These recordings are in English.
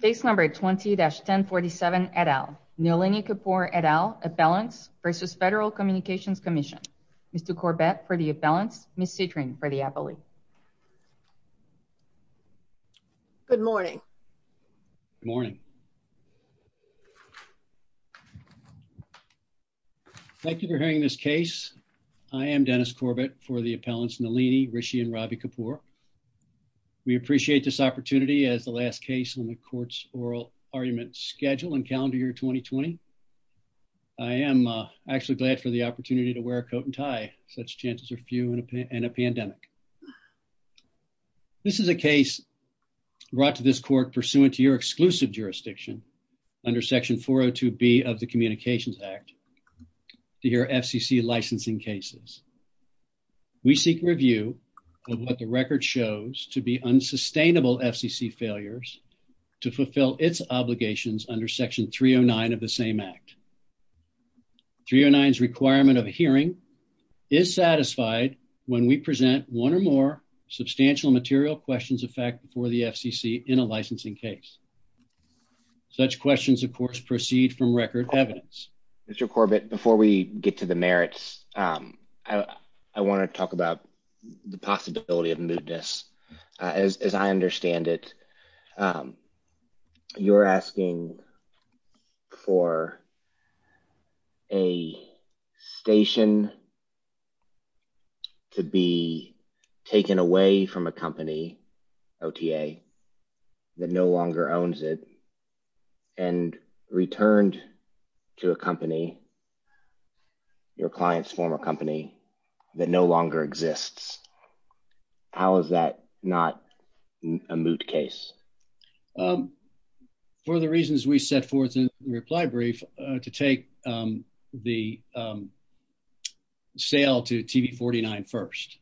Case number 20-1047 et al. Nalini Kapur et al. Appellants versus Federal Communications Commission. Mr. Corbett for the appellants, Ms. Citrin for the appellee. Good morning. Morning. Thank you for hearing this case. I am Dennis Corbett for the appellants Nalini Rishi and Ravi Kapur. We appreciate this as the last case on the court's oral argument schedule and calendar year 2020. I am actually glad for the opportunity to wear a coat and tie. Such chances are few in a pandemic. This is a case brought to this court pursuant to your exclusive jurisdiction under section 402B of the Communications Act to hear FCC licensing cases. We seek review of what the record shows to be unsustainable FCC failures to fulfill its obligations under section 309 of the same act. 309's requirement of hearing is satisfied when we present one or more substantial material questions of fact for the FCC in a licensing case. Such questions, of course, proceed from record evidence. Mr. Corbett, before we get to the merits, I want to talk about the possibility of mootness. As I understand it, you're asking for a station to be taken away from a company, OTA, that no longer owns it and returned to a company, your client's former company, that no longer exists. How is that not a moot case? For the reasons we set forth in the reply brief to take the sale to TV-49 first,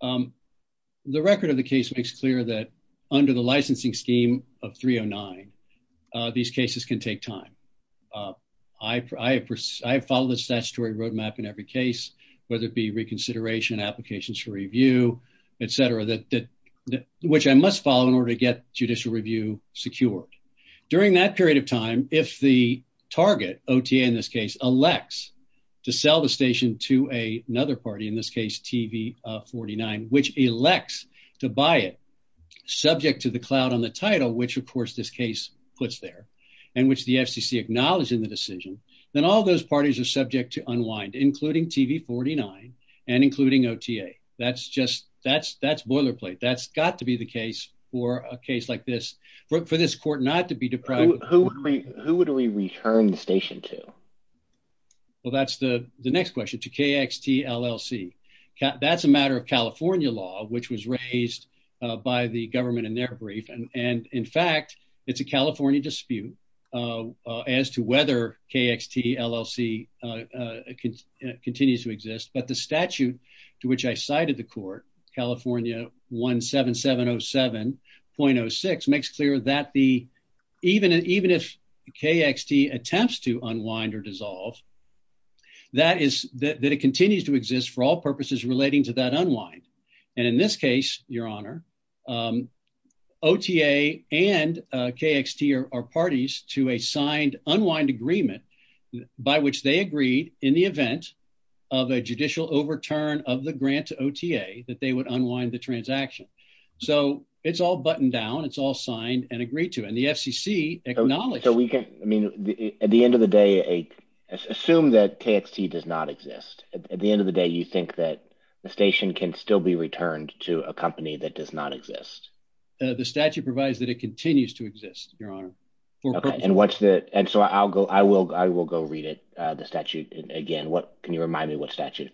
the record of the case makes clear that under the licensing scheme of 309, these cases can take time. I have followed the statutory road map in every case, whether it be reconsideration, applications for review, et cetera, which I must follow in order to get judicial review secured. During that period of time, if the target, OTA in this case, elects to sell the station to another party, in this case TV-49, which elects to buy it, subject to the cloud on the title, which of course, this case puts there, and which the FCC acknowledged in the decision, then all those parties are subject to unwind, including TV-49 and including OTA. That's boilerplate. That's got to be the case for a case like this, for this court not to be deprived. Who would we return the station to? Well, that's the next question, to KXT LLC. That's a matter of California law, which was raised by the government in their brief. In fact, it's a California dispute as to whether KXT LLC continues to exist, but the statute to which I cited the court, California 17707.06, makes clear that even if KXT attempts to unwind or dissolve, that it continues to exist for all purposes relating to that unwind. In this case, your honor, OTA and KXT are parties to a signed unwind agreement by which they agreed in the event of a judicial overturn of the grant to OTA, that they would unwind the transaction. It's all buttoned down. It's all signed and agreed to, and the FCC acknowledged- At the end of the day, assume that KXT does not exist. At the end of the day, you think that the station can still be returned to a company that does not exist? The statute provides that it continues to exist, your honor. Okay, and so I will go read it, the statute again. Can you remind me what statute?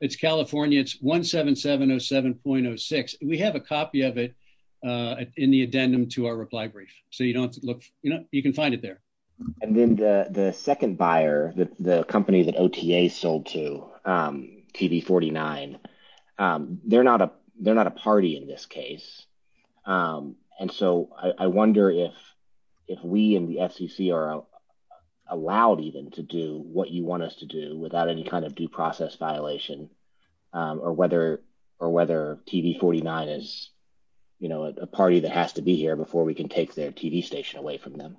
It's California, it's 17707.06. We have a copy of it in the addendum to our reply brief, so you can find it there. And then the second buyer, the company that OTA sold to, TV49, they're not a party in this case. And so I wonder if we in the FCC are allowed even to do what you want us to do without any kind of due process violation, or whether TV49 is a party that has to be here before we can take their TV station away from them.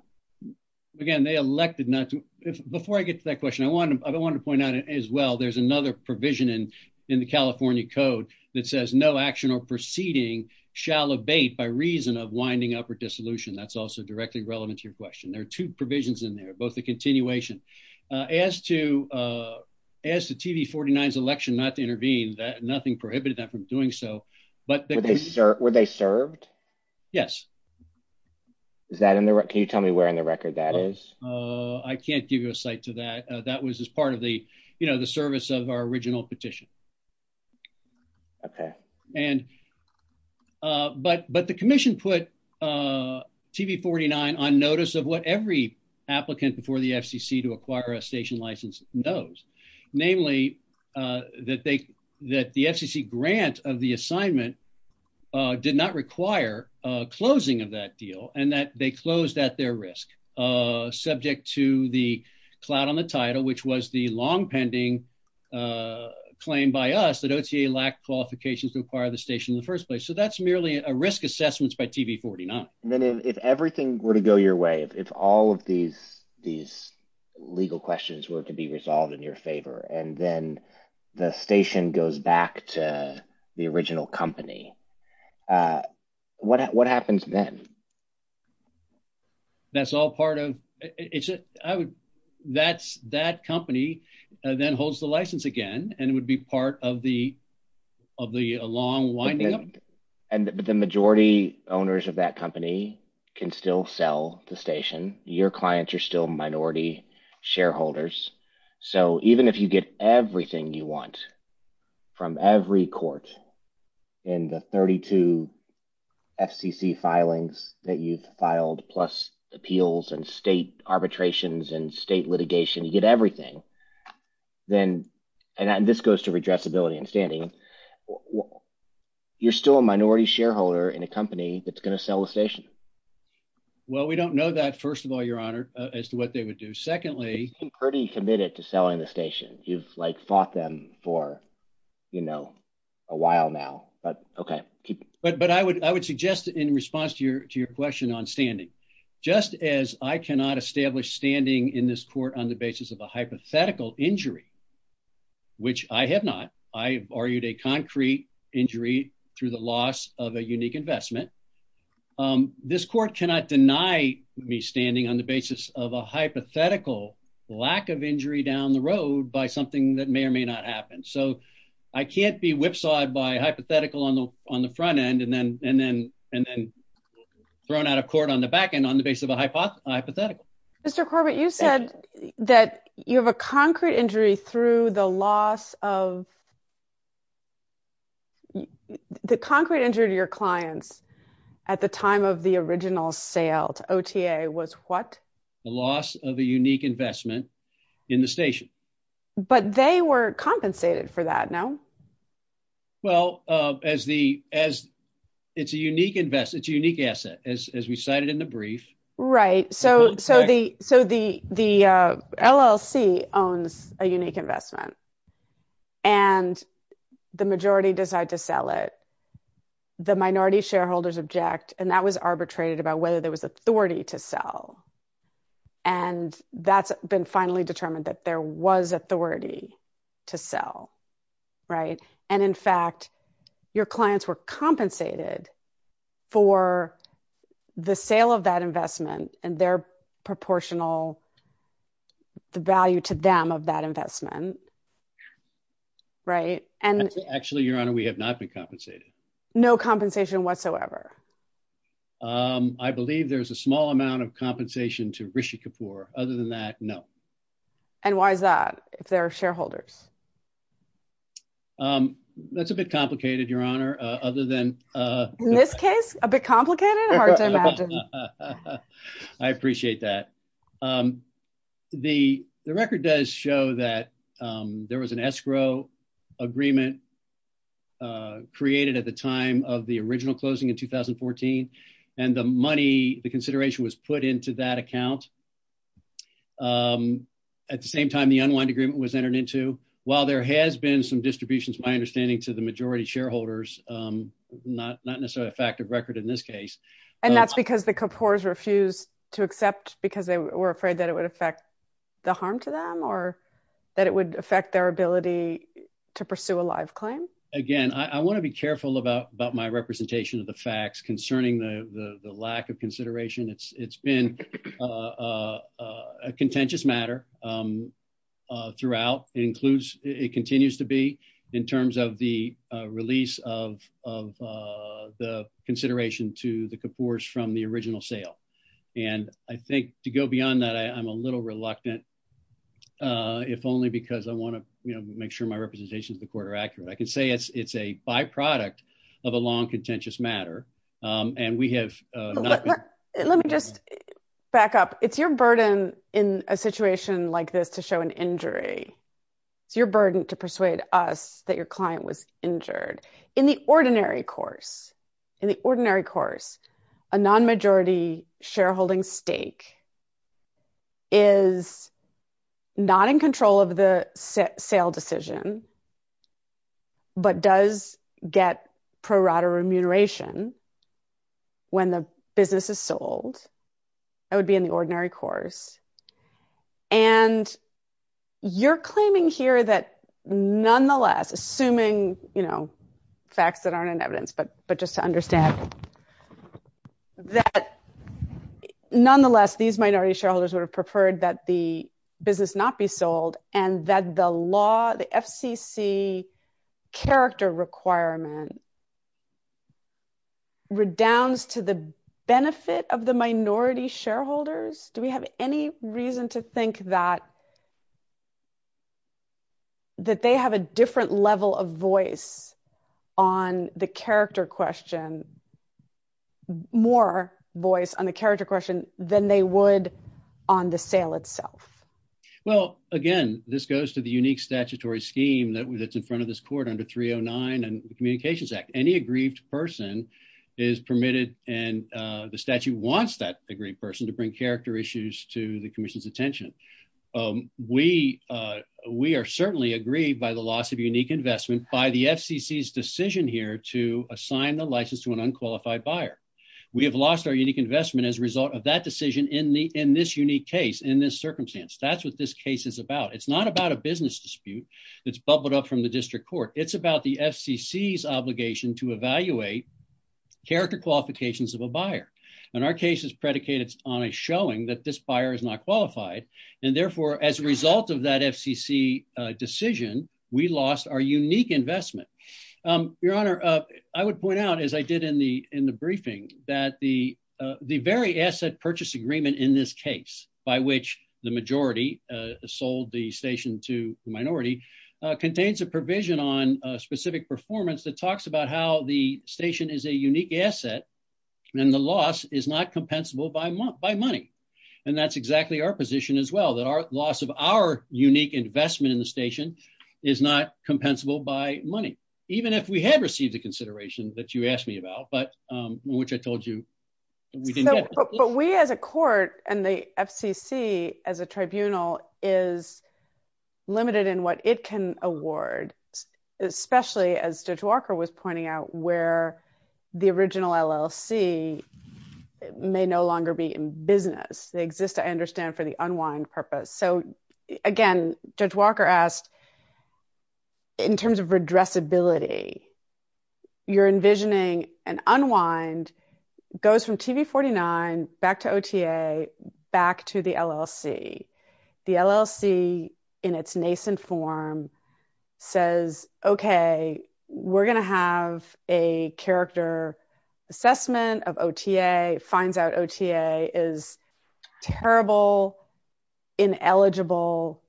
Again, they elected not to... Before I get to that question, I wanted to point out as well, there's another provision in the California code that says, no action or proceeding shall abate by reason of winding up or dissolution. That's also directly relevant to your question. There are two provisions in there, both the continuation. As to TV49's election not to intervene, nothing prohibited that from doing so. Were they served? Yes. Can you tell me where in the record that is? I can't give you a site to that. That was as part of the service of our original petition. But the commission put TV49 on notice of what every applicant before the FCC to acquire a station license knows. Namely, that the FCC grant of the assignment did not require closing of that deal and that they closed at their risk, subject to the clout on the title, which was the long pending claim by us that OTA lacked qualifications to acquire the station in the first place. So that's merely a risk assessments by TV49. And then if everything were to go your way, if all of these legal questions were to be resolved in your favor, and then the station goes back to the original company, what happens then? That's all part of it. That company then holds the license again, and it would be part of the long winding up. But the majority owners of that company can still sell the station. Your clients are still minority shareholders. So even if you get everything you want from every court in the 32 FCC filings that you've filed, plus appeals and state arbitrations and state litigation, you get everything. And this goes to redressability and standing. You're still a minority shareholder in a company that's going to sell the station. Well, we don't know that, first of all, your honor, as to what they would do. Secondly, pretty committed to selling the station. You've like fought them for, you know, a while now, but okay. But I would suggest in response to your question on standing, just as I cannot establish standing in this court on the basis of a hypothetical injury, which I have not, I argued a concrete injury through the loss of a unique investment. This court cannot deny me standing on the basis of a hypothetical lack of injury down the road by something that may or may not happen. So I can't be whipsawed by hypothetical on the front end and then thrown out of court on the back end on the basis of a hypothetical. Mr. Corbett, you said that you have a concrete injury through the loss of, the concrete injury to your clients at the time of the original sale to OTA was what? The loss of a unique investment in the station. But they were compensated for that, no? Well, as the, as it's a unique investment, it's a unique asset, as we So the, the LLC owns a unique investment and the majority decide to sell it. The minority shareholders object. And that was arbitrated about whether there was authority to sell. And that's been finally determined that there was authority to sell. Right. And in fact, your clients were compensated for the sale of that investment and their proportional, the value to them of that investment. Right. And actually, Your Honor, we have not been compensated. No compensation whatsoever. I believe there's a small amount of compensation to Rishi Kapoor. Other than that, no. And why is that if there are shareholders? That's a bit complicated, Your Honor, other than this case, a bit complicated. I appreciate that. The record does show that there was an escrow agreement created at the time of the original closing in 2014. And the money, the consideration was put into that account. At the same time, the unwind agreement was entered into while there has been some distributions, my understanding to the majority shareholders, not necessarily a fact of record in this case. And that's because the Kapoors refuse to accept because they were afraid that it would affect the harm to them or that it would affect their ability to pursue a live claim. Again, I want to be careful about my representation of the facts concerning the lack of consideration. It's been a contentious matter throughout. It includes, it continues to be in terms of the release of the consideration to the Kapoors from the original sale. And I think to go beyond that, I'm a little reluctant, if only because I want to make sure my representation is the quarter accurate. I can say it's a byproduct of a long contentious matter. Let me just back up. It's your burden in a situation like this to show an injury. It's your burden to persuade us that your client was injured. In the ordinary course, a non-majority shareholding stake is not in control of the sale decision, but does get pro rata remuneration when the business is sold. That would be in the ordinary course. And you're claiming here that nonetheless, assuming facts that aren't in evidence, but just to understand, that nonetheless, these minority shareholders would have preferred that the the FCC character requirement redounds to the benefit of the minority shareholders. Do we have any reason to think that they have a different level of voice on the character question, more voice on the character question than they would on the sale itself? Well, again, this goes to the unique statutory scheme that's in front of this court under 309 and the Communications Act. Any aggrieved person is permitted and the statute wants that aggrieved person to bring character issues to the commission's attention. We are certainly aggrieved by the loss of unique investment by the FCC's decision here to assign the license to an unqualified buyer. We have lost our unique investment as a result of that decision in this unique case, in this circumstance. That's what this case is about. It's not about a business dispute that's bubbled up from the district court. It's about the FCC's obligation to evaluate character qualifications of a buyer. And our case is predicated on a showing that this buyer is not qualified. And therefore, as a result of that FCC decision, we lost our unique investment. Your Honor, I would point out, as I did in the briefing, that the very asset purchase agreement in this case, by which the majority sold the station to the minority, contains a provision on a specific performance that talks about how the station is a unique asset and the loss is not compensable by money. And that's exactly our position as well, that our loss of our unique investment in the station is not compensable by money, even if we had received the consideration that you asked me about, but which I told you we didn't get. But we as a court and the FCC as a tribunal is limited in what it can award, especially as Judge Walker was pointing out, where the original LLC may no longer be in business. They exist, I understand, for the unwind purpose. So envisioning an unwind goes from TV 49 back to OTA, back to the LLC. The LLC in its nascent form says, okay, we're going to have a character assessment of OTA, finds out OTA is terrible, ineligible,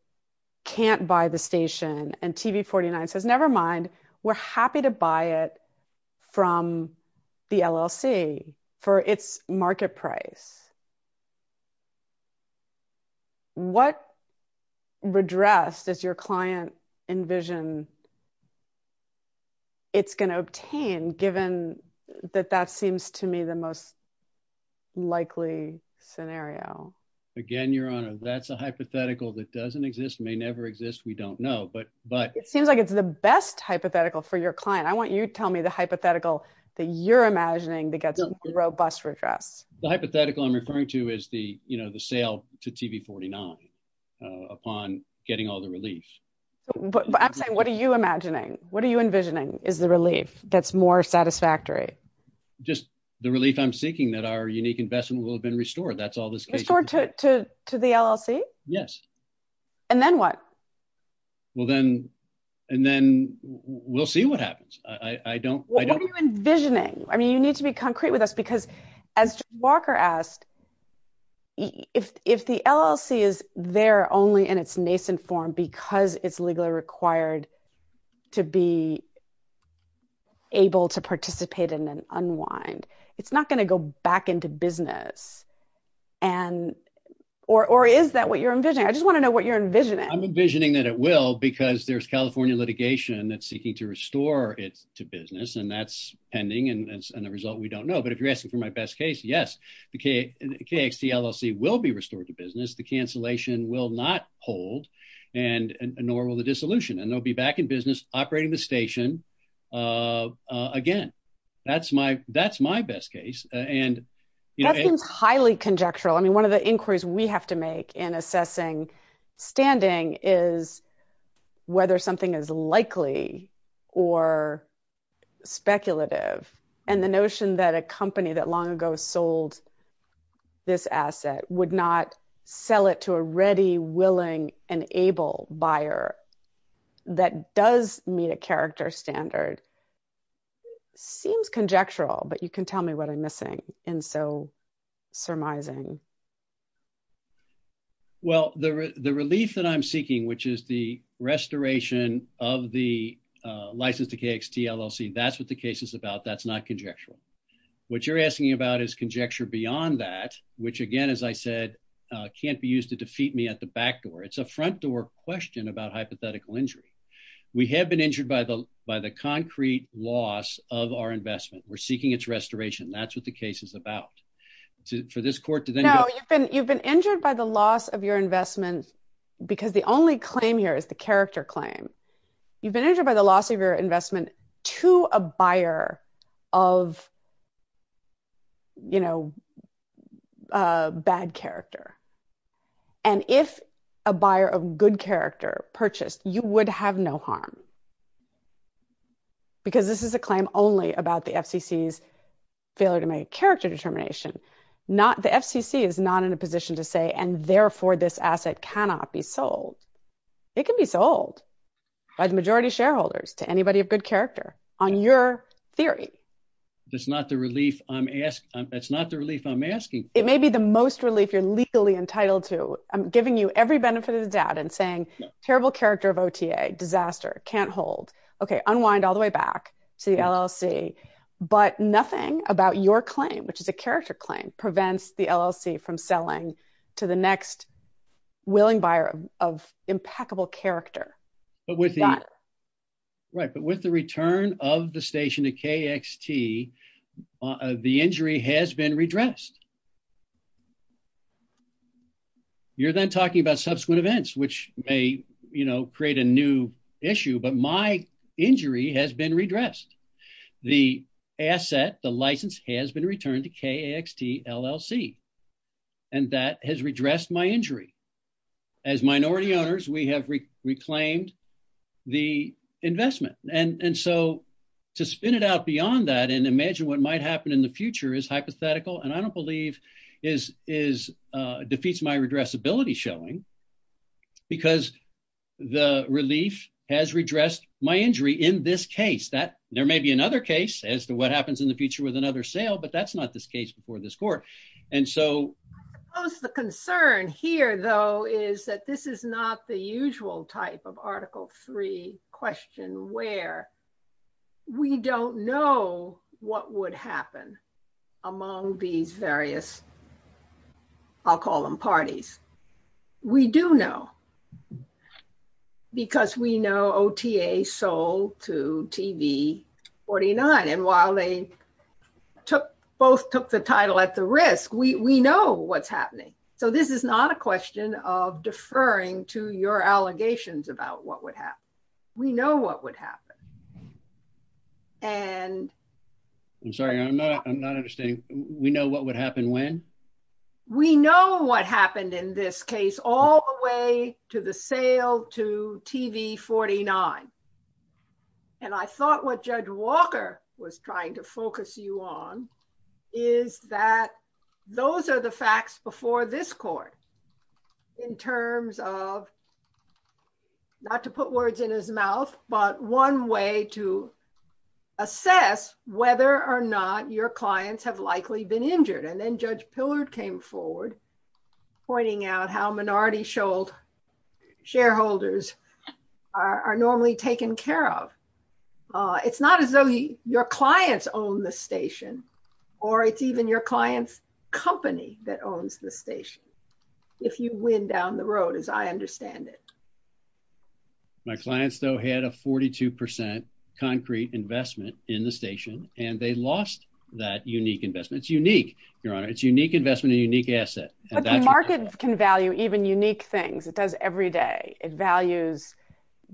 can't buy the station, and TV 49 says, never mind, we're happy to buy it from the LLC for its market price. What redress does your client envision it's going to obtain, given that that seems to me the most likely scenario? Again, Your Honor, that's a hypothetical that doesn't exist, may never exist, we don't know. It seems like it's the best hypothetical for your client. I want you to tell me the hypothetical that you're imagining that gets robust redress. The hypothetical I'm referring to is the sale to TV 49 upon getting all the relief. I'm saying, what are you envisioning is the relief that's more satisfactory? Just the relief I'm seeking that our unique investment will have been restored. That's the case. Restored to the LLC? Yes. Then what? Well, then we'll see what happens. I don't- What are you envisioning? You need to be concrete with us because as Walker asked, if the LLC is there only in its nascent form because it's legally required to be able to participate in an unwind, it's not going to go back into business. And, or is that what you're envisioning? I just want to know what you're envisioning. I'm envisioning that it will because there's California litigation that's seeking to restore it to business and that's pending. And as a result, we don't know. But if you're asking for my best case, yes, the KXT LLC will be restored to business. The cancellation will not hold and nor will the dissolution. And there'll be back in business operating the station again. That's my best case. That seems highly conjectural. I mean, one of the inquiries we have to make in assessing standing is whether something is likely or speculative. And the notion that a company that long ago sold this asset would not sell it to a ready, willing, and able buyer that does meet a character standard seems conjectural, but you can tell me what I'm missing and so surmising. Well, the relief that I'm seeking, which is the restoration of the license to KXT LLC, that's what the case is about. That's not conjectural. What you're asking about is conjecture beyond that, which again, as I said, can't be used to We have been injured by the concrete loss of our investment. We're seeking its restoration. That's what the case is about. For this court to then- No, you've been injured by the loss of your investment, because the only claim here is the character claim. You've been injured by the loss of your investment to a buyer of bad character. And if a buyer of good character purchased, you would have no harm, because this is a claim only about the FCC's failure to make a character determination. The FCC is not in a position to say, and therefore this asset cannot be sold. It can be sold by the majority of shareholders to anybody of good character on your theory. That's not the relief I'm asking. It may be the most relief you're legally entitled to. I'm giving you every benefit of the doubt and saying terrible character of OTA, disaster, can't hold. Okay. Unwind all the way back to the LLC, but nothing about your claim, which is a character claim, prevents the LLC from selling to the next willing buyer of impeccable character. But with the return of the station to KXT, the injury has been redressed. You're then talking about subsequent events, which may create a new issue, but my injury has been redressed. The asset, the license has been returned to KXT LLC, and that has redressed my injury. As minority owners, we have reclaimed the investment. To spin it out beyond that and imagine what might happen in the future is hypothetical, and I don't believe defeats my redressability showing, because the relief has redressed my injury in this case. There may be another case as to what happens in the future with another sale, but that's not this case before this is that this is not the usual type of article three question where we don't know what would happen among these various, I'll call them parties. We do know because we know OTA sold to TV49. And while they both took the title at the risk, we know what's happening. So this is not a question of deferring to your allegations about what would happen. We know what would happen. And I'm sorry, I'm not understanding. We know what would happen when? We know what happened in this case all the way to the sale to TV49. And I thought what Judge Walker was trying to focus you on is that those are the facts before this court in terms of not to put words in his mouth, but one way to assess whether or not your clients have likely been injured. And then Judge Pillard came forward pointing out how minority shareholders are normally taken care of. It's not as though your clients own the station or it's even your client's company that owns the station. If you win down the road as I understand it. My clients though had a 42 percent concrete investment in the station and they lost that unique investment. It's unique, your honor. It's unique investment, a unique asset. But the markets can value even unique things. It does every day. It values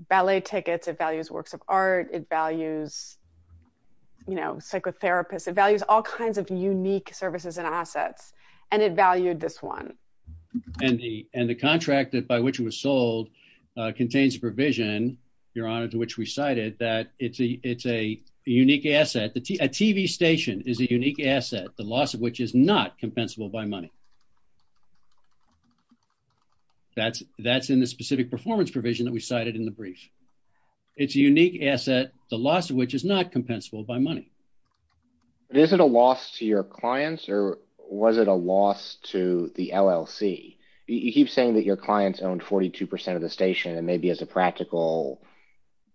ballet tickets. It values works of art. It values psychotherapists. It values all kinds of unique services and assets. And it valued this one. And the contract by which it was sold contains a provision, your honor, to which we cited that it's a unique asset. A TV station is a unique asset, the loss of which is not compensable by money. That's in the specific performance provision that we cited in the brief. It's a unique asset, the loss of which is not compensable by money. Is it a loss to your clients or was it a loss to the LLC? You keep saying that your clients owned 42 percent of the station and maybe as a practical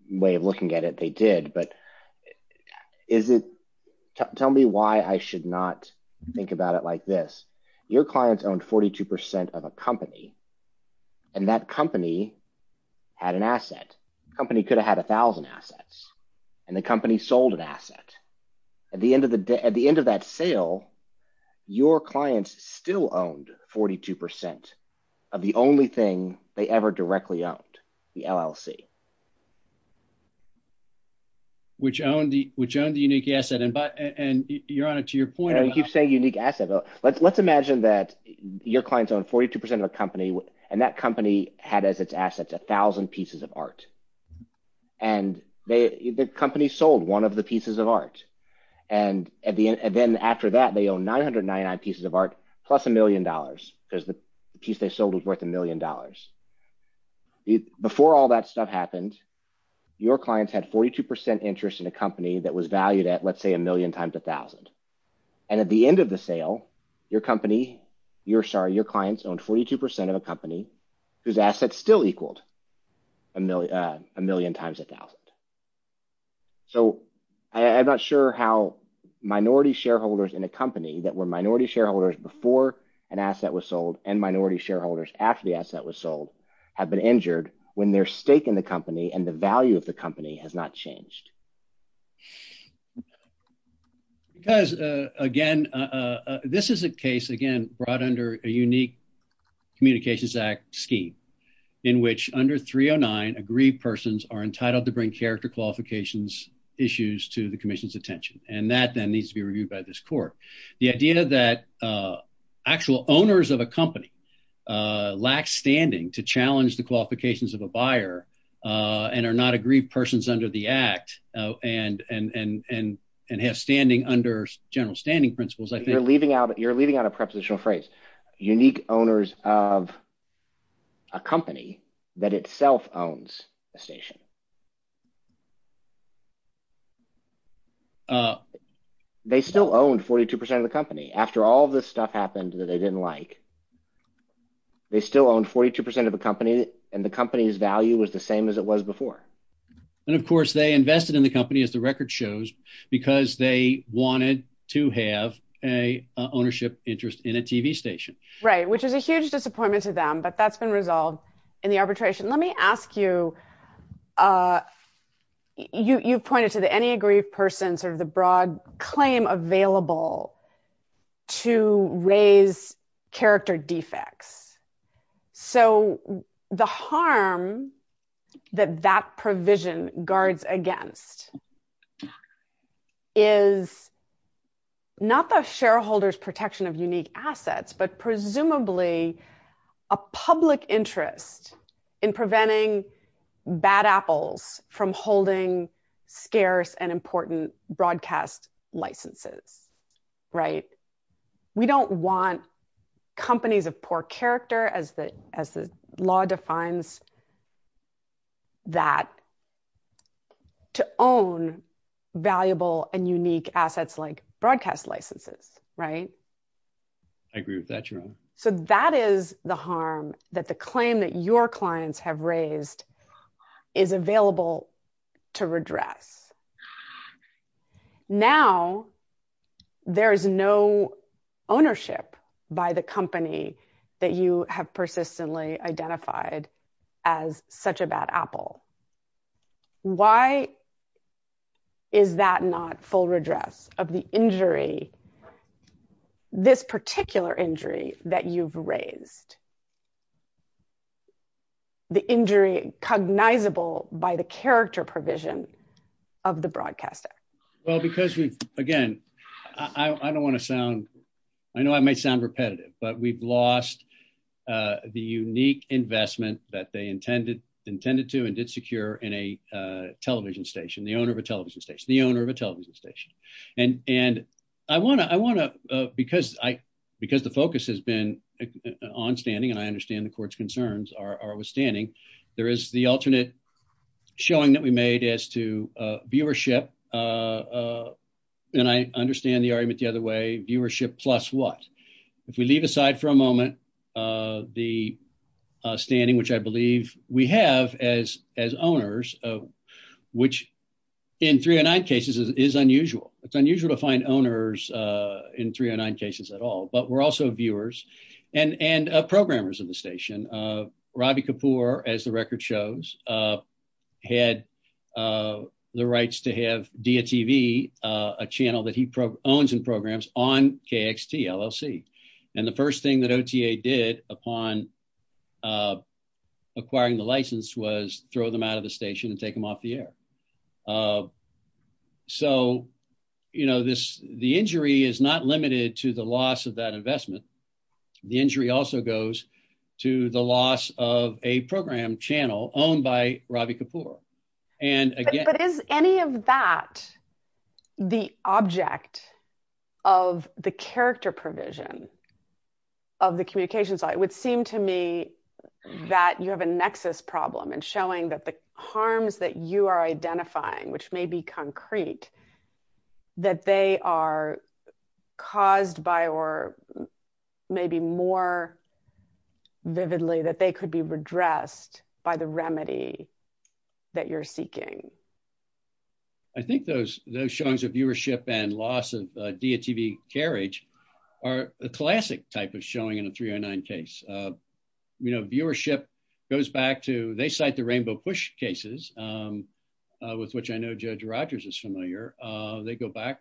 way of looking at it, they did. But your clients owned 42 percent of a company and that company had an asset. Company could have had a thousand assets and the company sold an asset. At the end of the day, at the end of that sale, your clients still owned 42 percent of the only thing they ever directly owned, the LLC. Which owned the unique asset. And you're on it to your point. You keep saying unique asset. Let's imagine that your clients own 42 percent of a company and that company had as its assets a thousand pieces of art. And the company sold one of the pieces of art. And then after that, they own 999 pieces of art plus a million dollars because the piece they sold was worth a million dollars. Before all that stuff happened, your clients had 42 percent interest in a company that was valued at, let's say, a million times a thousand. And at the end of the sale, your company, you're sorry, your clients owned 42 percent of a company whose assets still equaled a million times a thousand. So, I'm not sure how minority shareholders in a company that were minority shareholders before an asset was sold and minority shareholders after the asset was sold have been injured when their stake in the company and the value of the company has not changed. Because, again, this is a case, again, brought under a unique Communications Act scheme in which under 309, agreed persons are entitled to bring character qualifications issues to the commission's attention. And that then needs to be reviewed by this court. The idea that actual owners of a company lack standing to challenge the qualifications of a buyer and are not agreed persons under the act and have standing under general standing principles. You're leaving out a prepositional phrase. Unique owners of a company that itself owns a station. They still own 42 percent of the company after all this stuff happened that they didn't like. They still own 42 percent of the company and the company's value was the same as it was before. And of course, they invested in the company as the record shows, because they wanted to have a ownership interest in a TV station. Right, which is a huge disappointment to them, but that's been resolved in the arbitration. Let me ask you, you pointed to the any agreed persons or the broad claim available to raise character defects. So the harm that that provision guards against is not the shareholders protection of unique assets, but presumably a public interest in preventing bad apples from holding scarce and important broadcast licenses. Right. We don't want companies of poor character as the law defines that to own valuable and unique assets like broadcast licenses. Right. I agree with that, Jerome. So that is the harm that the claim that your clients have raised is available to redress. Now, there is no ownership by the company that you have persistently identified as such a bad apple. Why is that not full redress of the injury, this particular injury that you've raised? The injury cognizable by the character provision of the broadcaster? Well, because we again, I don't want to sound I know I might sound repetitive, but we've lost the unique investment that they intended intended to and did secure in a television station, the owner of a television station, the owner of a television station. And and I want to I want to because I because the focus has been on standing and I understand the court's concerns are withstanding. There is the alternate showing that we made as to viewership. And I understand the argument the other way, plus what? If we leave aside for a moment, the standing which I believe we have as as owners, which in three or nine cases is unusual. It's unusual to find owners in three or nine cases at all. But we're also viewers and programmers in the station. Ravi Kapoor, as the record shows, had the rights to have DTV, a channel that he owns and programs on KXT LLC. And the first thing that OTA did upon acquiring the license was throw them out of the station and take them off the air. So, you know, this the injury is not limited to the loss of that investment. The injury also goes to the loss of a program channel owned by Ravi Kapoor. And is any of that the object of the character provision of the communications? It would seem to me that you have a nexus problem and showing that the harms that you are identifying, which may be concrete, that they are caused by or maybe more vividly that they could be redressed by the remedy that you're seeking. I think those those showings of viewership and loss of DTV carriage are a classic type of showing in a three or nine case. You know, viewership goes back to they cite the Rainbow Push cases, with which I know Judge Rogers is familiar. They go back,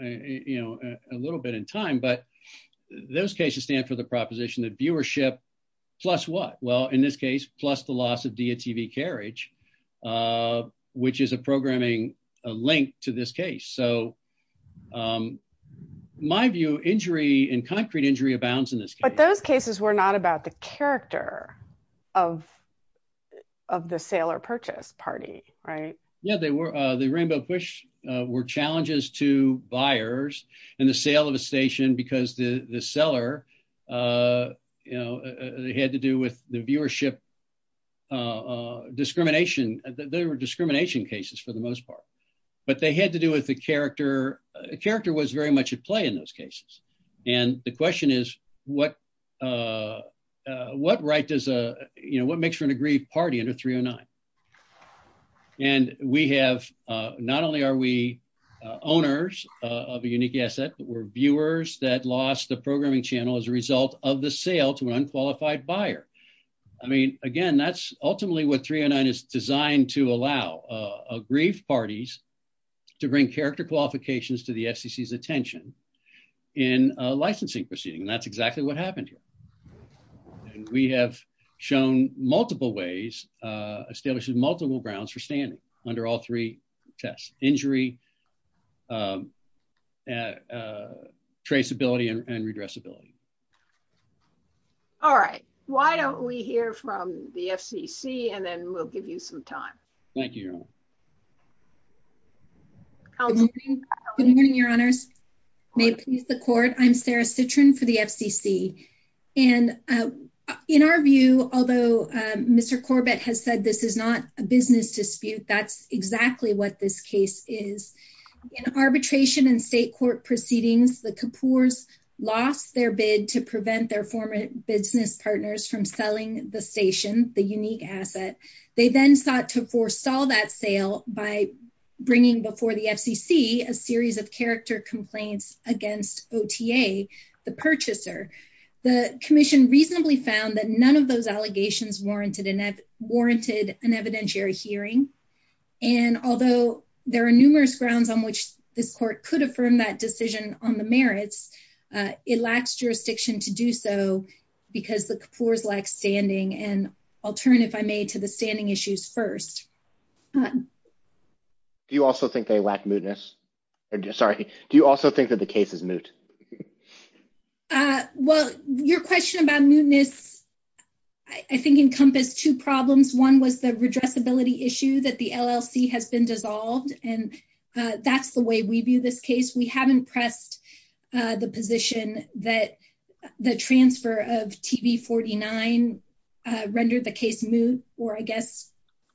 you know, a little bit in time. But those cases stand for the proposition that viewership plus what? Well, in this case, plus the loss of DTV carriage, which is a programming link to this case. So my view, injury and concrete injury abounds in this case. But those cases were not about the character of of the sale or purchase party, right? Yeah, they were. The Rainbow Push were challenges to buyers and the sale of a station because the seller, you know, they had to do with the viewership discrimination. There were discrimination cases for the most part. But they had to do with the character. Character was very much at play in those cases. And the question is, what what right does a you know, what makes for an aggrieved party in a three or nine? And we have not only are we owners of a unique asset, but we're viewers that lost the programming channel as a result of the sale to an unqualified buyer. I mean, again, that's ultimately what three or nine is designed to allow aggrieved parties to bring character qualifications to the attention in a licensing proceeding. And that's exactly what happened here. We have shown multiple ways, established multiple grounds for standing under all three tests, injury, traceability and redressability. All right, why don't we hear from the FCC and then we'll give you some time. Thank you. Good morning, your honors. May please the court. I'm Sarah Citron for the FCC. And in our view, although Mr. Corbett has said this is not a business dispute, that's exactly what this case is. In arbitration and state court proceedings, the Kapoors lost their bid to prevent their former business partners from selling the station, the unique asset. They then sought to saw that sale by bringing before the FCC a series of character complaints against OTA, the purchaser. The commission reasonably found that none of those allegations warranted an evidentiary hearing. And although there are numerous grounds on which this court could affirm that decision on the merits, it lacks jurisdiction to do so because the Kapoors lack standing. And I'll turn, if I may, to the standing issues first. Do you also think they lack mootness? Sorry. Do you also think that the case is moot? Well, your question about mootness, I think, encompassed two problems. One was the redressability issue that the LLC has been dissolved. And that's the way we view this issue. The TV49 rendered the case moot, or I guess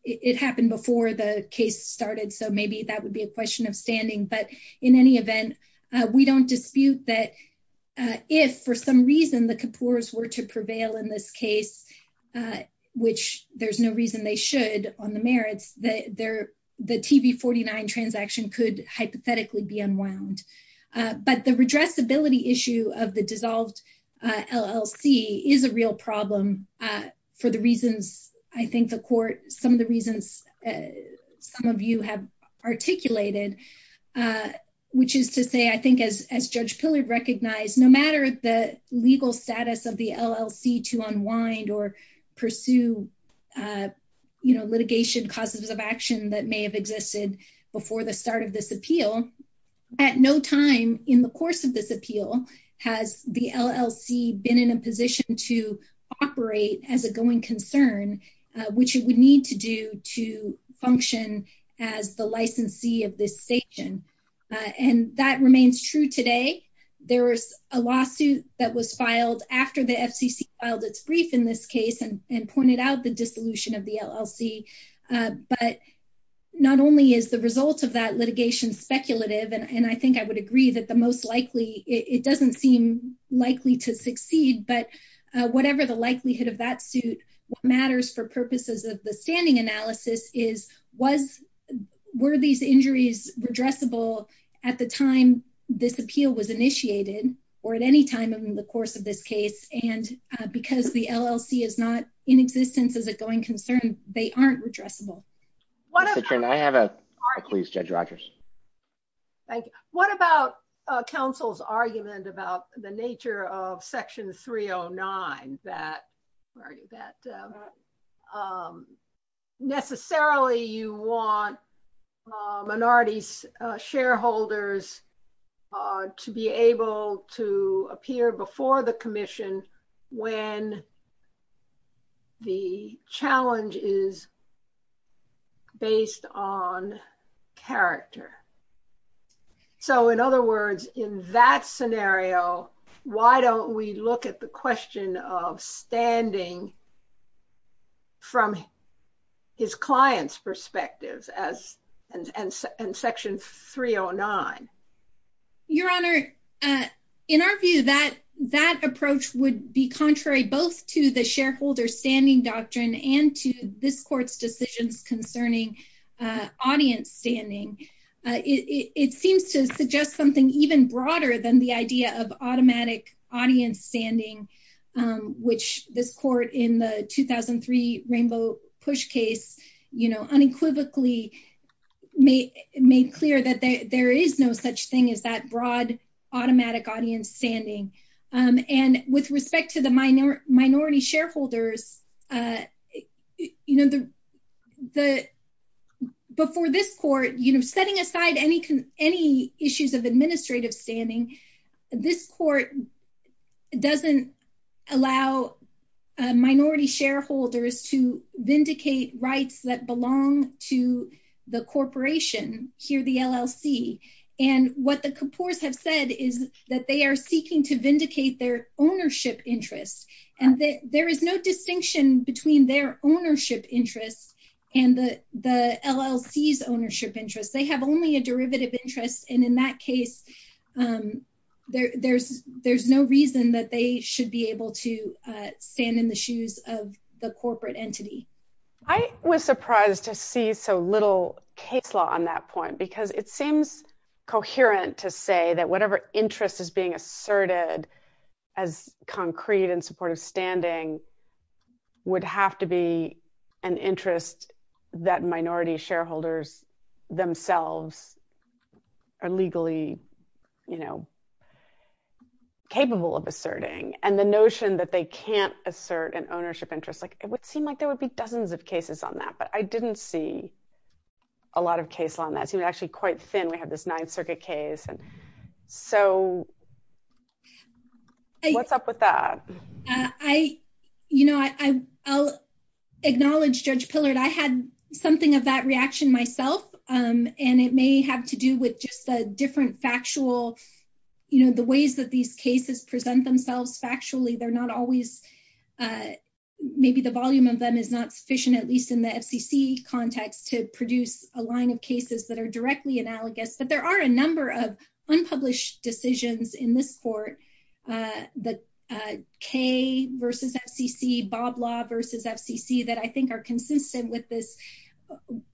it happened before the case started, so maybe that would be a question of standing. But in any event, we don't dispute that if for some reason the Kapoors were to prevail in this case, which there's no reason they should on the merits, the TV49 transaction could hypothetically be unwound. But the redressability issue of the dissolved LLC is a real problem for the reasons I think the court, some of the reasons some of you have articulated, which is to say, I think as Judge Pillard recognized, no matter the legal status of the LLC to unwind or pursue litigation causes of action that may have existed before the start of this appeal, at no time in the course of this appeal has the LLC been in a position to operate as a going concern, which it would need to do to function as the licensee of this station. And that remains true today. There was a lawsuit that was filed after the FCC filed its brief in this case and pointed out the dissolution of the LLC. But not only is the result of that litigation speculative, and I think I would agree that the most likely, it doesn't seem likely to succeed, but whatever the likelihood of that suit, what matters for purposes of the standing analysis is were these injuries redressable at the time this appeal was initiated or at any time in the course of this case. And because the LLC is not in existence as a going concern, they aren't redressable. What about counsel's argument about the nature of section 309 argue that necessarily you want minority shareholders to be able to appear before the commission when the challenge is based on character. So in other words, in that scenario, why don't we look at the question of standing from his clients' perspectives and section 309? Your Honor, in our view, that approach would be contrary both to the shareholder standing doctrine and to this court's decisions concerning audience standing. It seems to suggest something even broader than the idea of automatic audience standing, which this court in the 2003 Rainbow Push case unequivocally made clear that there is no such thing as that broad automatic audience standing. And with respect to the minority shareholders, you know, before this court, you know, setting aside any issues of administrative standing, this court doesn't allow minority shareholders to vindicate rights that belong to the corporation here, the LLC. And what the Kapoor's have said is that they are seeking to vindicate their between their ownership interests and the LLC's ownership interests. They have only a derivative interest. And in that case, there's no reason that they should be able to stand in the shoes of the corporate entity. I was surprised to see so little case law on that point, because it seems coherent to say that whatever interest is being asserted as concrete and supportive standing, would have to be an interest that minority shareholders themselves are legally, you know, capable of asserting. And the notion that they can't assert an ownership interest, like it would seem like there would be dozens of cases on that. But I didn't see a lot of case law on that. It's actually quite thin. We have this Ninth Circuit case. And so what's up with that? I, you know, I'll acknowledge Judge Pillard, I had something of that reaction myself. And it may have to do with just a different factual, you know, the ways that these cases present themselves factually, they're not always maybe the volume of them is not sufficient, at least in the FCC context to produce a line of cases that are directly analogous. But there are a in this court, the K versus FCC, Bob law versus FCC that I think are consistent with this,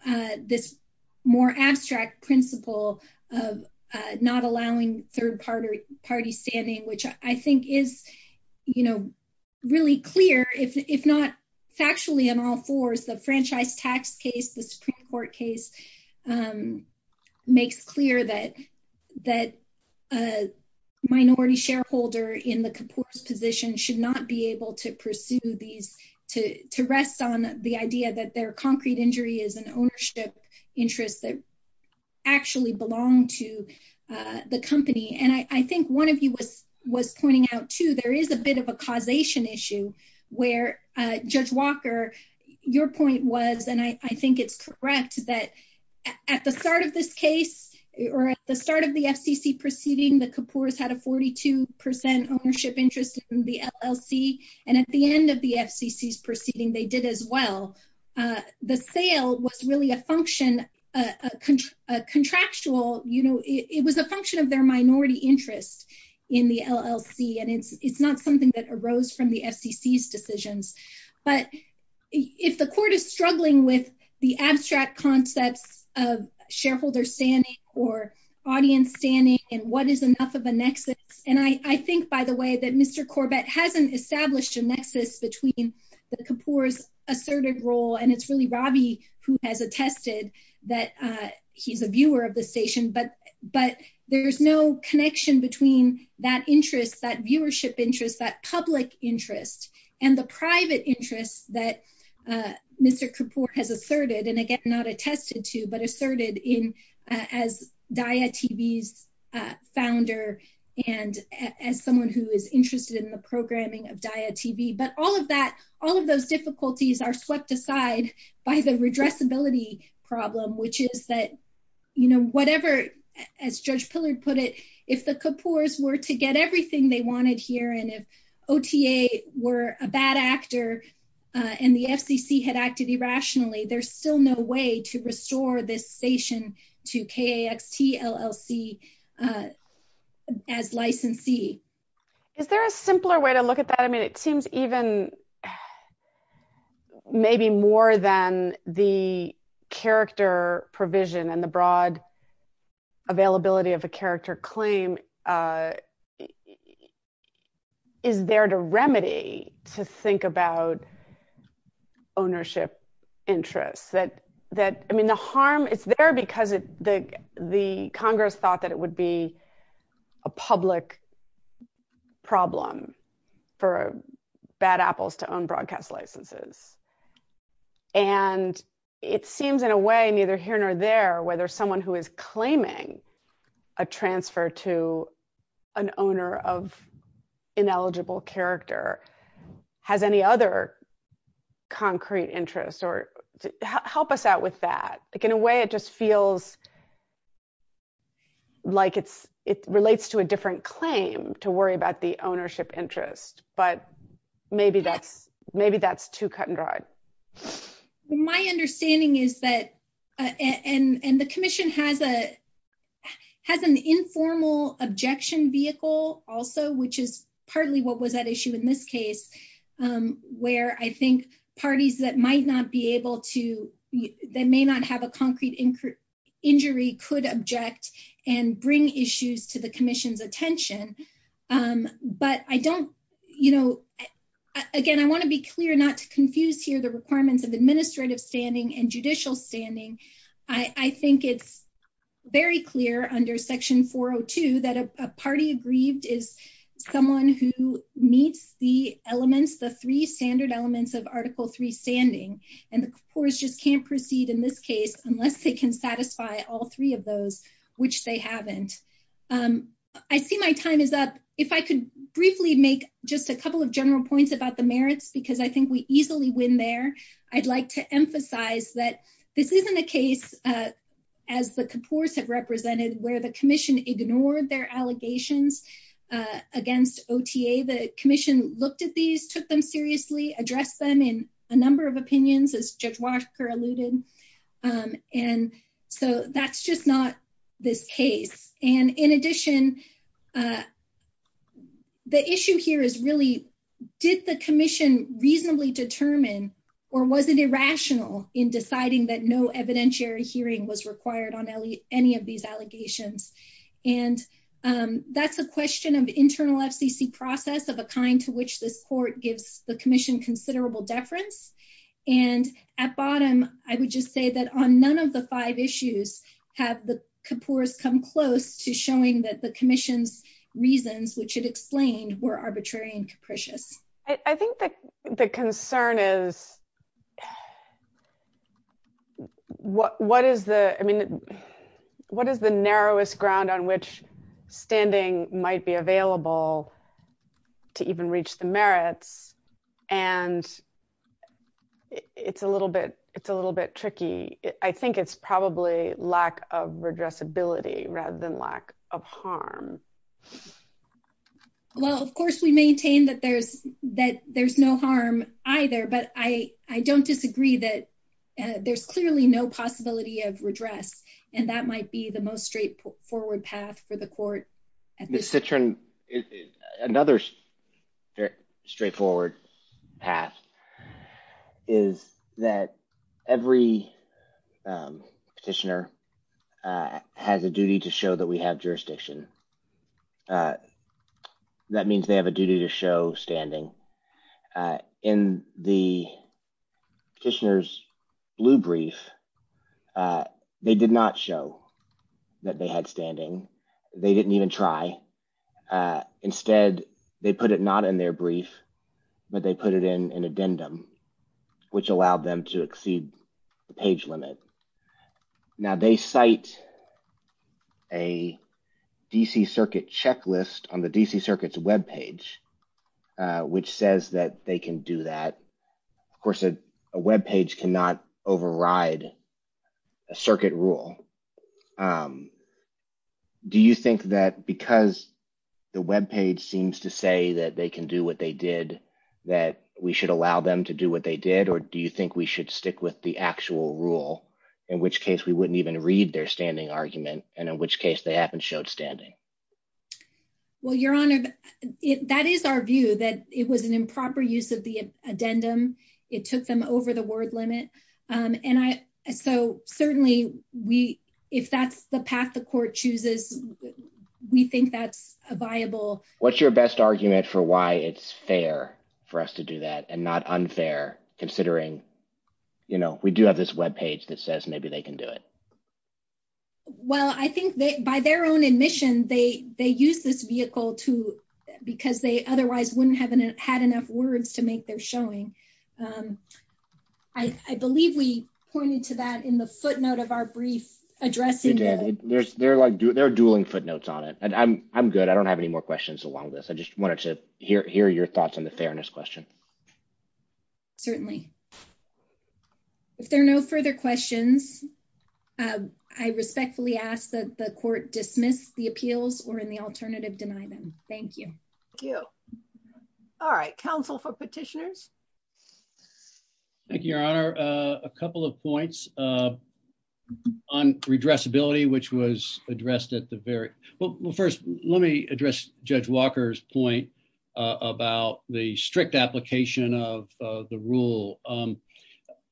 this more abstract principle of not allowing third party standing, which I think is, you know, really clear if not factually on all fours, the franchise tax case, the Supreme Court case, makes clear that, that a minority shareholder in the composer's position should not be able to pursue these to rest on the idea that their concrete injury is an ownership interest that actually belong to the company. And I think one of you was was pointing out to there is a bit of a causation issue, where Judge Walker, your point was, and I think it's correct that at the start of this case, or at the start of the FCC proceeding, the compose had a 42% ownership interest in the LLC. And at the end of the FCC is proceeding, they did as well. The sale was really a function, a contractual, you know, it was a function of their minority interest in the LLC. And it's not something that arose from the FCC decisions. But if the court is of shareholder standing, or audience standing, and what is enough of a nexus, and I think, by the way, that Mr. Corbett hasn't established a nexus between the compose asserted role, and it's really Robbie, who has attested that he's a viewer of the station, but, but there's no connection between that interest, that viewership interest, that public interest, and the private interests that Mr. Kapoor has asserted, and again, not attested to, but asserted in as Daya TV's founder, and as someone who is interested in the programming of Daya TV, but all of that, all of those difficulties are swept aside by the redressability problem, which is that, you know, whatever, as Judge Pillard put it, if the Kapoor's were to get everything they wanted here, and if OTA were a bad actor, and the FCC had acted irrationally, there's still no way to restore this station to K-A-X-T-L-L-C as licensee. Is there a simpler way to look at that? I mean, it seems even maybe more than the character provision and the broad availability of a character claim is there to remedy, to think about ownership interests, that, that, I mean, the harm is there because it, the, the Congress thought that it would be a public problem for bad apples to own broadcast licenses, and it seems in a way, neither here nor there, whether someone who is claiming a transfer to an owner of ineligible character has any other concrete interest, or help us out with that. Like, in a way, it just feels like it's, it relates to a different claim to worry about the ownership interest, but maybe that's, maybe that's too cut and dried. My understanding is that, and, and the has an informal objection vehicle also, which is partly what was at issue in this case, where I think parties that might not be able to, that may not have a concrete injury could object and bring issues to the commission's attention, but I don't, you know, again, I want to be clear not to confuse here the requirements of administrative standing and judicial standing. I, I think it's very clear under section 402 that a party aggrieved is someone who meets the elements, the three standard elements of article three standing, and the courts just can't proceed in this case unless they can satisfy all three of those, which they haven't. I see my time is up. If I could briefly make just a couple of general points about the merits, because I think we easily win there. I'd like to emphasize that this isn't a case, as the Kapoor's have represented, where the commission ignored their allegations against OTA. The commission looked at these, took them seriously, addressed them in a number of opinions, as Judge Walker alluded. And so that's just not this case. And in addition, the issue here is really, did the commission reasonably determine, or was it irrational in deciding that no evidentiary hearing was required on any of these allegations? And that's a question of internal FCC process of a kind to which this court gives the commission considerable deference. And at bottom, I would just say that on none of the five issues have Kapoor's come close to showing that the commission's reasons, which it explained, were arbitrary and capricious. I think that the concern is what is the, I mean, what is the narrowest ground on which standing might be available to even reach the merits? And it's a little bit tricky. I think it's probably lack of redressability rather than lack of harm. Well, of course we maintain that there's no harm either, but I don't disagree that there's clearly no possibility of redress, and that might be the most straightforward path for the court. Ms. Citron, another straightforward path is that every petitioner has a duty to show that we have jurisdiction. That means they have a duty to show standing. In the petitioner's blue brief, they did not show that they had standing. They didn't even try. Instead, they put it not in their brief, but they put it in an addendum, which allowed them to exceed the page limit. Now, they cite a DC Circuit checklist on the DC Circuit's webpage, which says that they can do that. Of course, a webpage cannot override a circuit rule. Do you think that because the webpage seems to say that they can do what they did, that we should allow them to do what they did, or do you think we should stick with the actual rule, in which case we wouldn't even read their standing argument, and in which case they haven't showed standing? Well, Your Honor, that is our view, that it was an improper use of the addendum. It took them over the word limit. So certainly, if that's the path the court chooses, we think that's a viable... What's your best argument for why it's fair for us to do that, and not unfair, considering we do have this webpage that says maybe they can do it? Well, I think by their own admission, they used this vehicle because they otherwise wouldn't have had enough words to make their showing. I believe we pointed to that in the footnote of our brief addressing the... They're dueling footnotes on it, and I'm good. I don't have any more questions along this. I just wanted to hear your thoughts on the fairness question. Certainly. If there are no further questions, I respectfully ask that the court dismiss the appeals, or in the alternative, deny them. Thank you. Thank you. All right. Counsel for petitioners? Thank you, Your Honor. A couple of points on redressability, which was addressed at the very... Well, first, let me address Judge Walker's point about the strict application of the rule.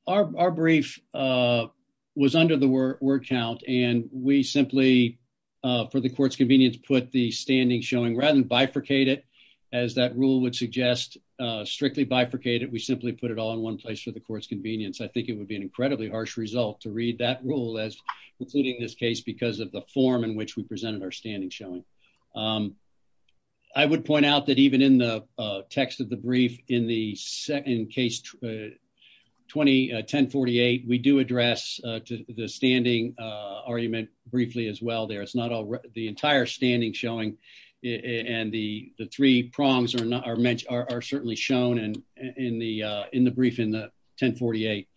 Our brief was under the word count, and we simply, for the court's convenience, put the standing showing rather than bifurcate it, as that rule would suggest. Strictly bifurcate it. We simply put it all in one place for the court's convenience. I think it would be an incredibly harsh result to read that rule as concluding this case because of the form in which we presented our standing showing. I would point out that even in the text of the brief in case 1048, we do and the three prongs are certainly shown in the brief in the 1048.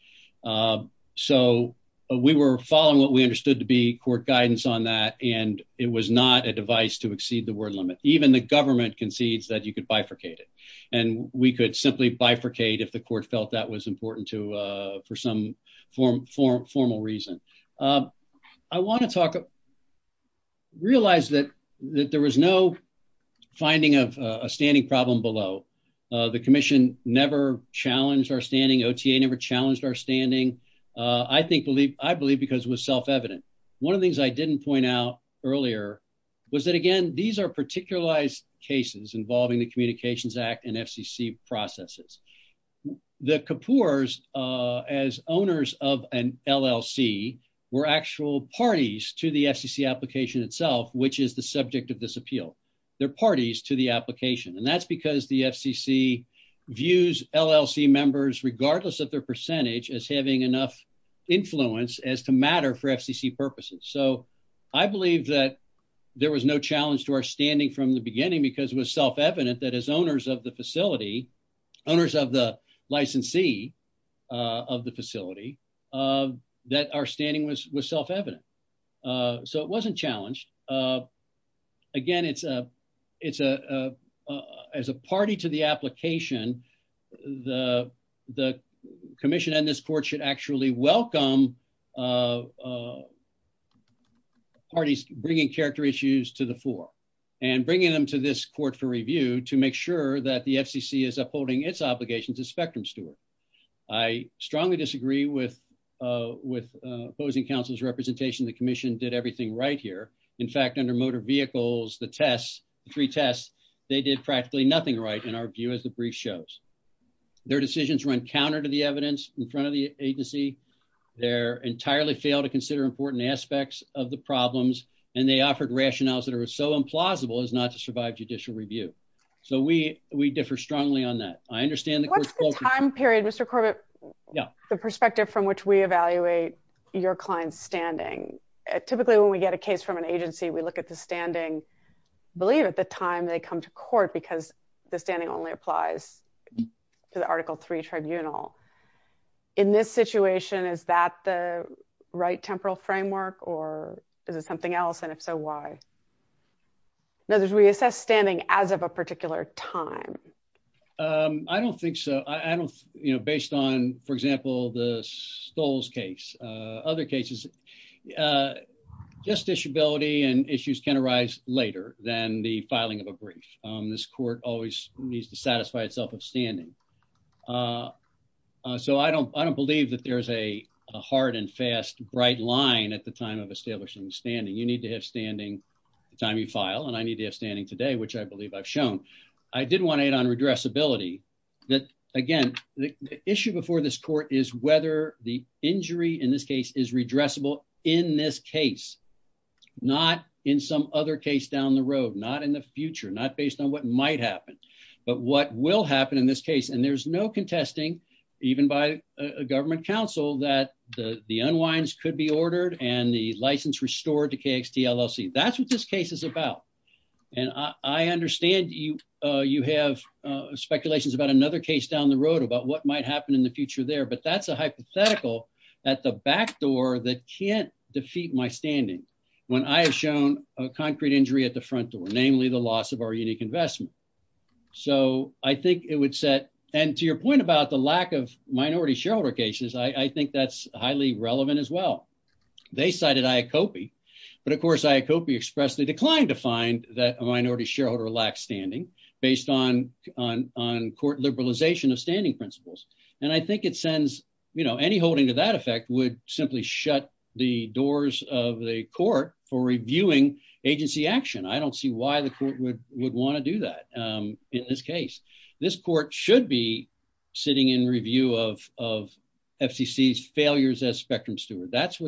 So we were following what we understood to be court guidance on that, and it was not a device to exceed the word limit. Even the government concedes that you could bifurcate it. We could simply bifurcate if the court felt that was important for some formal reason. I want to find a standing problem below. The commission never challenged our standing. OTA never challenged our standing. I believe because it was self-evident. One of the things I didn't point out earlier was that, again, these are particularized cases involving the Communications Act and FCC processes. The Kapoors, as owners of an LLC, were actual parties to the FCC application itself, which is the subject of this appeal. They're parties to the application, and that's because the FCC views LLC members, regardless of their percentage, as having enough influence as to matter for FCC purposes. So I believe that there was no challenge to our standing from the beginning because it was self-evident that as owners of the facility, owners of the licensee of the facility, that our standing was self-evident. So it wasn't challenged. Again, as a party to the application, the commission and this court should actually welcome parties bringing character issues to the floor and bringing them to this court for review to that the FCC is upholding its obligations as spectrum steward. I strongly disagree with opposing counsel's representation. The commission did everything right here. In fact, under motor vehicles, the tests, the three tests, they did practically nothing right, in our view, as the brief shows. Their decisions run counter to the evidence in front of the agency. They entirely failed to consider important aspects of the problems, and they offered rationales that are so implausible as not to survive judicial review. So we differ strongly on that. I understand the time period, Mr. Corbett, the perspective from which we evaluate your client's standing. Typically, when we get a case from an agency, we look at the standing, believe at the time they come to court because the standing only applies to the Article III tribunal. In this situation, is that the right temporal framework or is it something else? And if so, why? In other words, we assess standing as of a particular time. I don't think so. I don't, you know, based on, for example, the Stolz case, other cases, justiciability and issues can arise later than the filing of a brief. This court always needs to satisfy itself of standing. So I don't, I don't believe that there's a hard and fast, bright line at the time of establishing the standing. You need to have standing the time you file, and I need to have standing today, which I believe I've shown. I did want to add on redressability that, again, the issue before this court is whether the injury in this case is redressable in this case, not in some other case down the road, not in the future, not based on what might happen, but what will happen in this case. And there's no contesting, even by a government counsel, that the unwinds could be ordered and the license restored to KXT LLC. That's what this case is about. And I understand you have speculations about another case down the road about what might happen in the future there, but that's a hypothetical at the back door that can't defeat my standing when I have shown a concrete injury at the front door, namely the loss of our unique investment. So I think it would set, and to your point about the lack of minority shareholder cases, I think that's highly relevant as well. They cited IACOPI, but of course IACOPI expressly declined to find that a minority shareholder lacks standing based on court liberalization of standing principles. And I think it sends, you know, any holding to that effect would simply shut the doors of the court for reviewing agency action. I don't see why the court would want to do that in this case. This court should be sitting in review of FCC's failures as spectrum steward. That's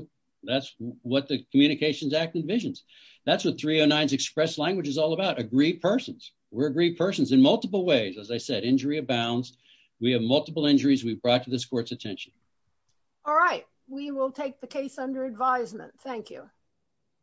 what the Communications Act envisions. That's what 309's express language is all about. Agree persons. We're agreed persons in multiple ways. As I said, injury abounds. We have multiple injuries we've brought to this court's attention. All right. We will take the case under advisement. Thank you.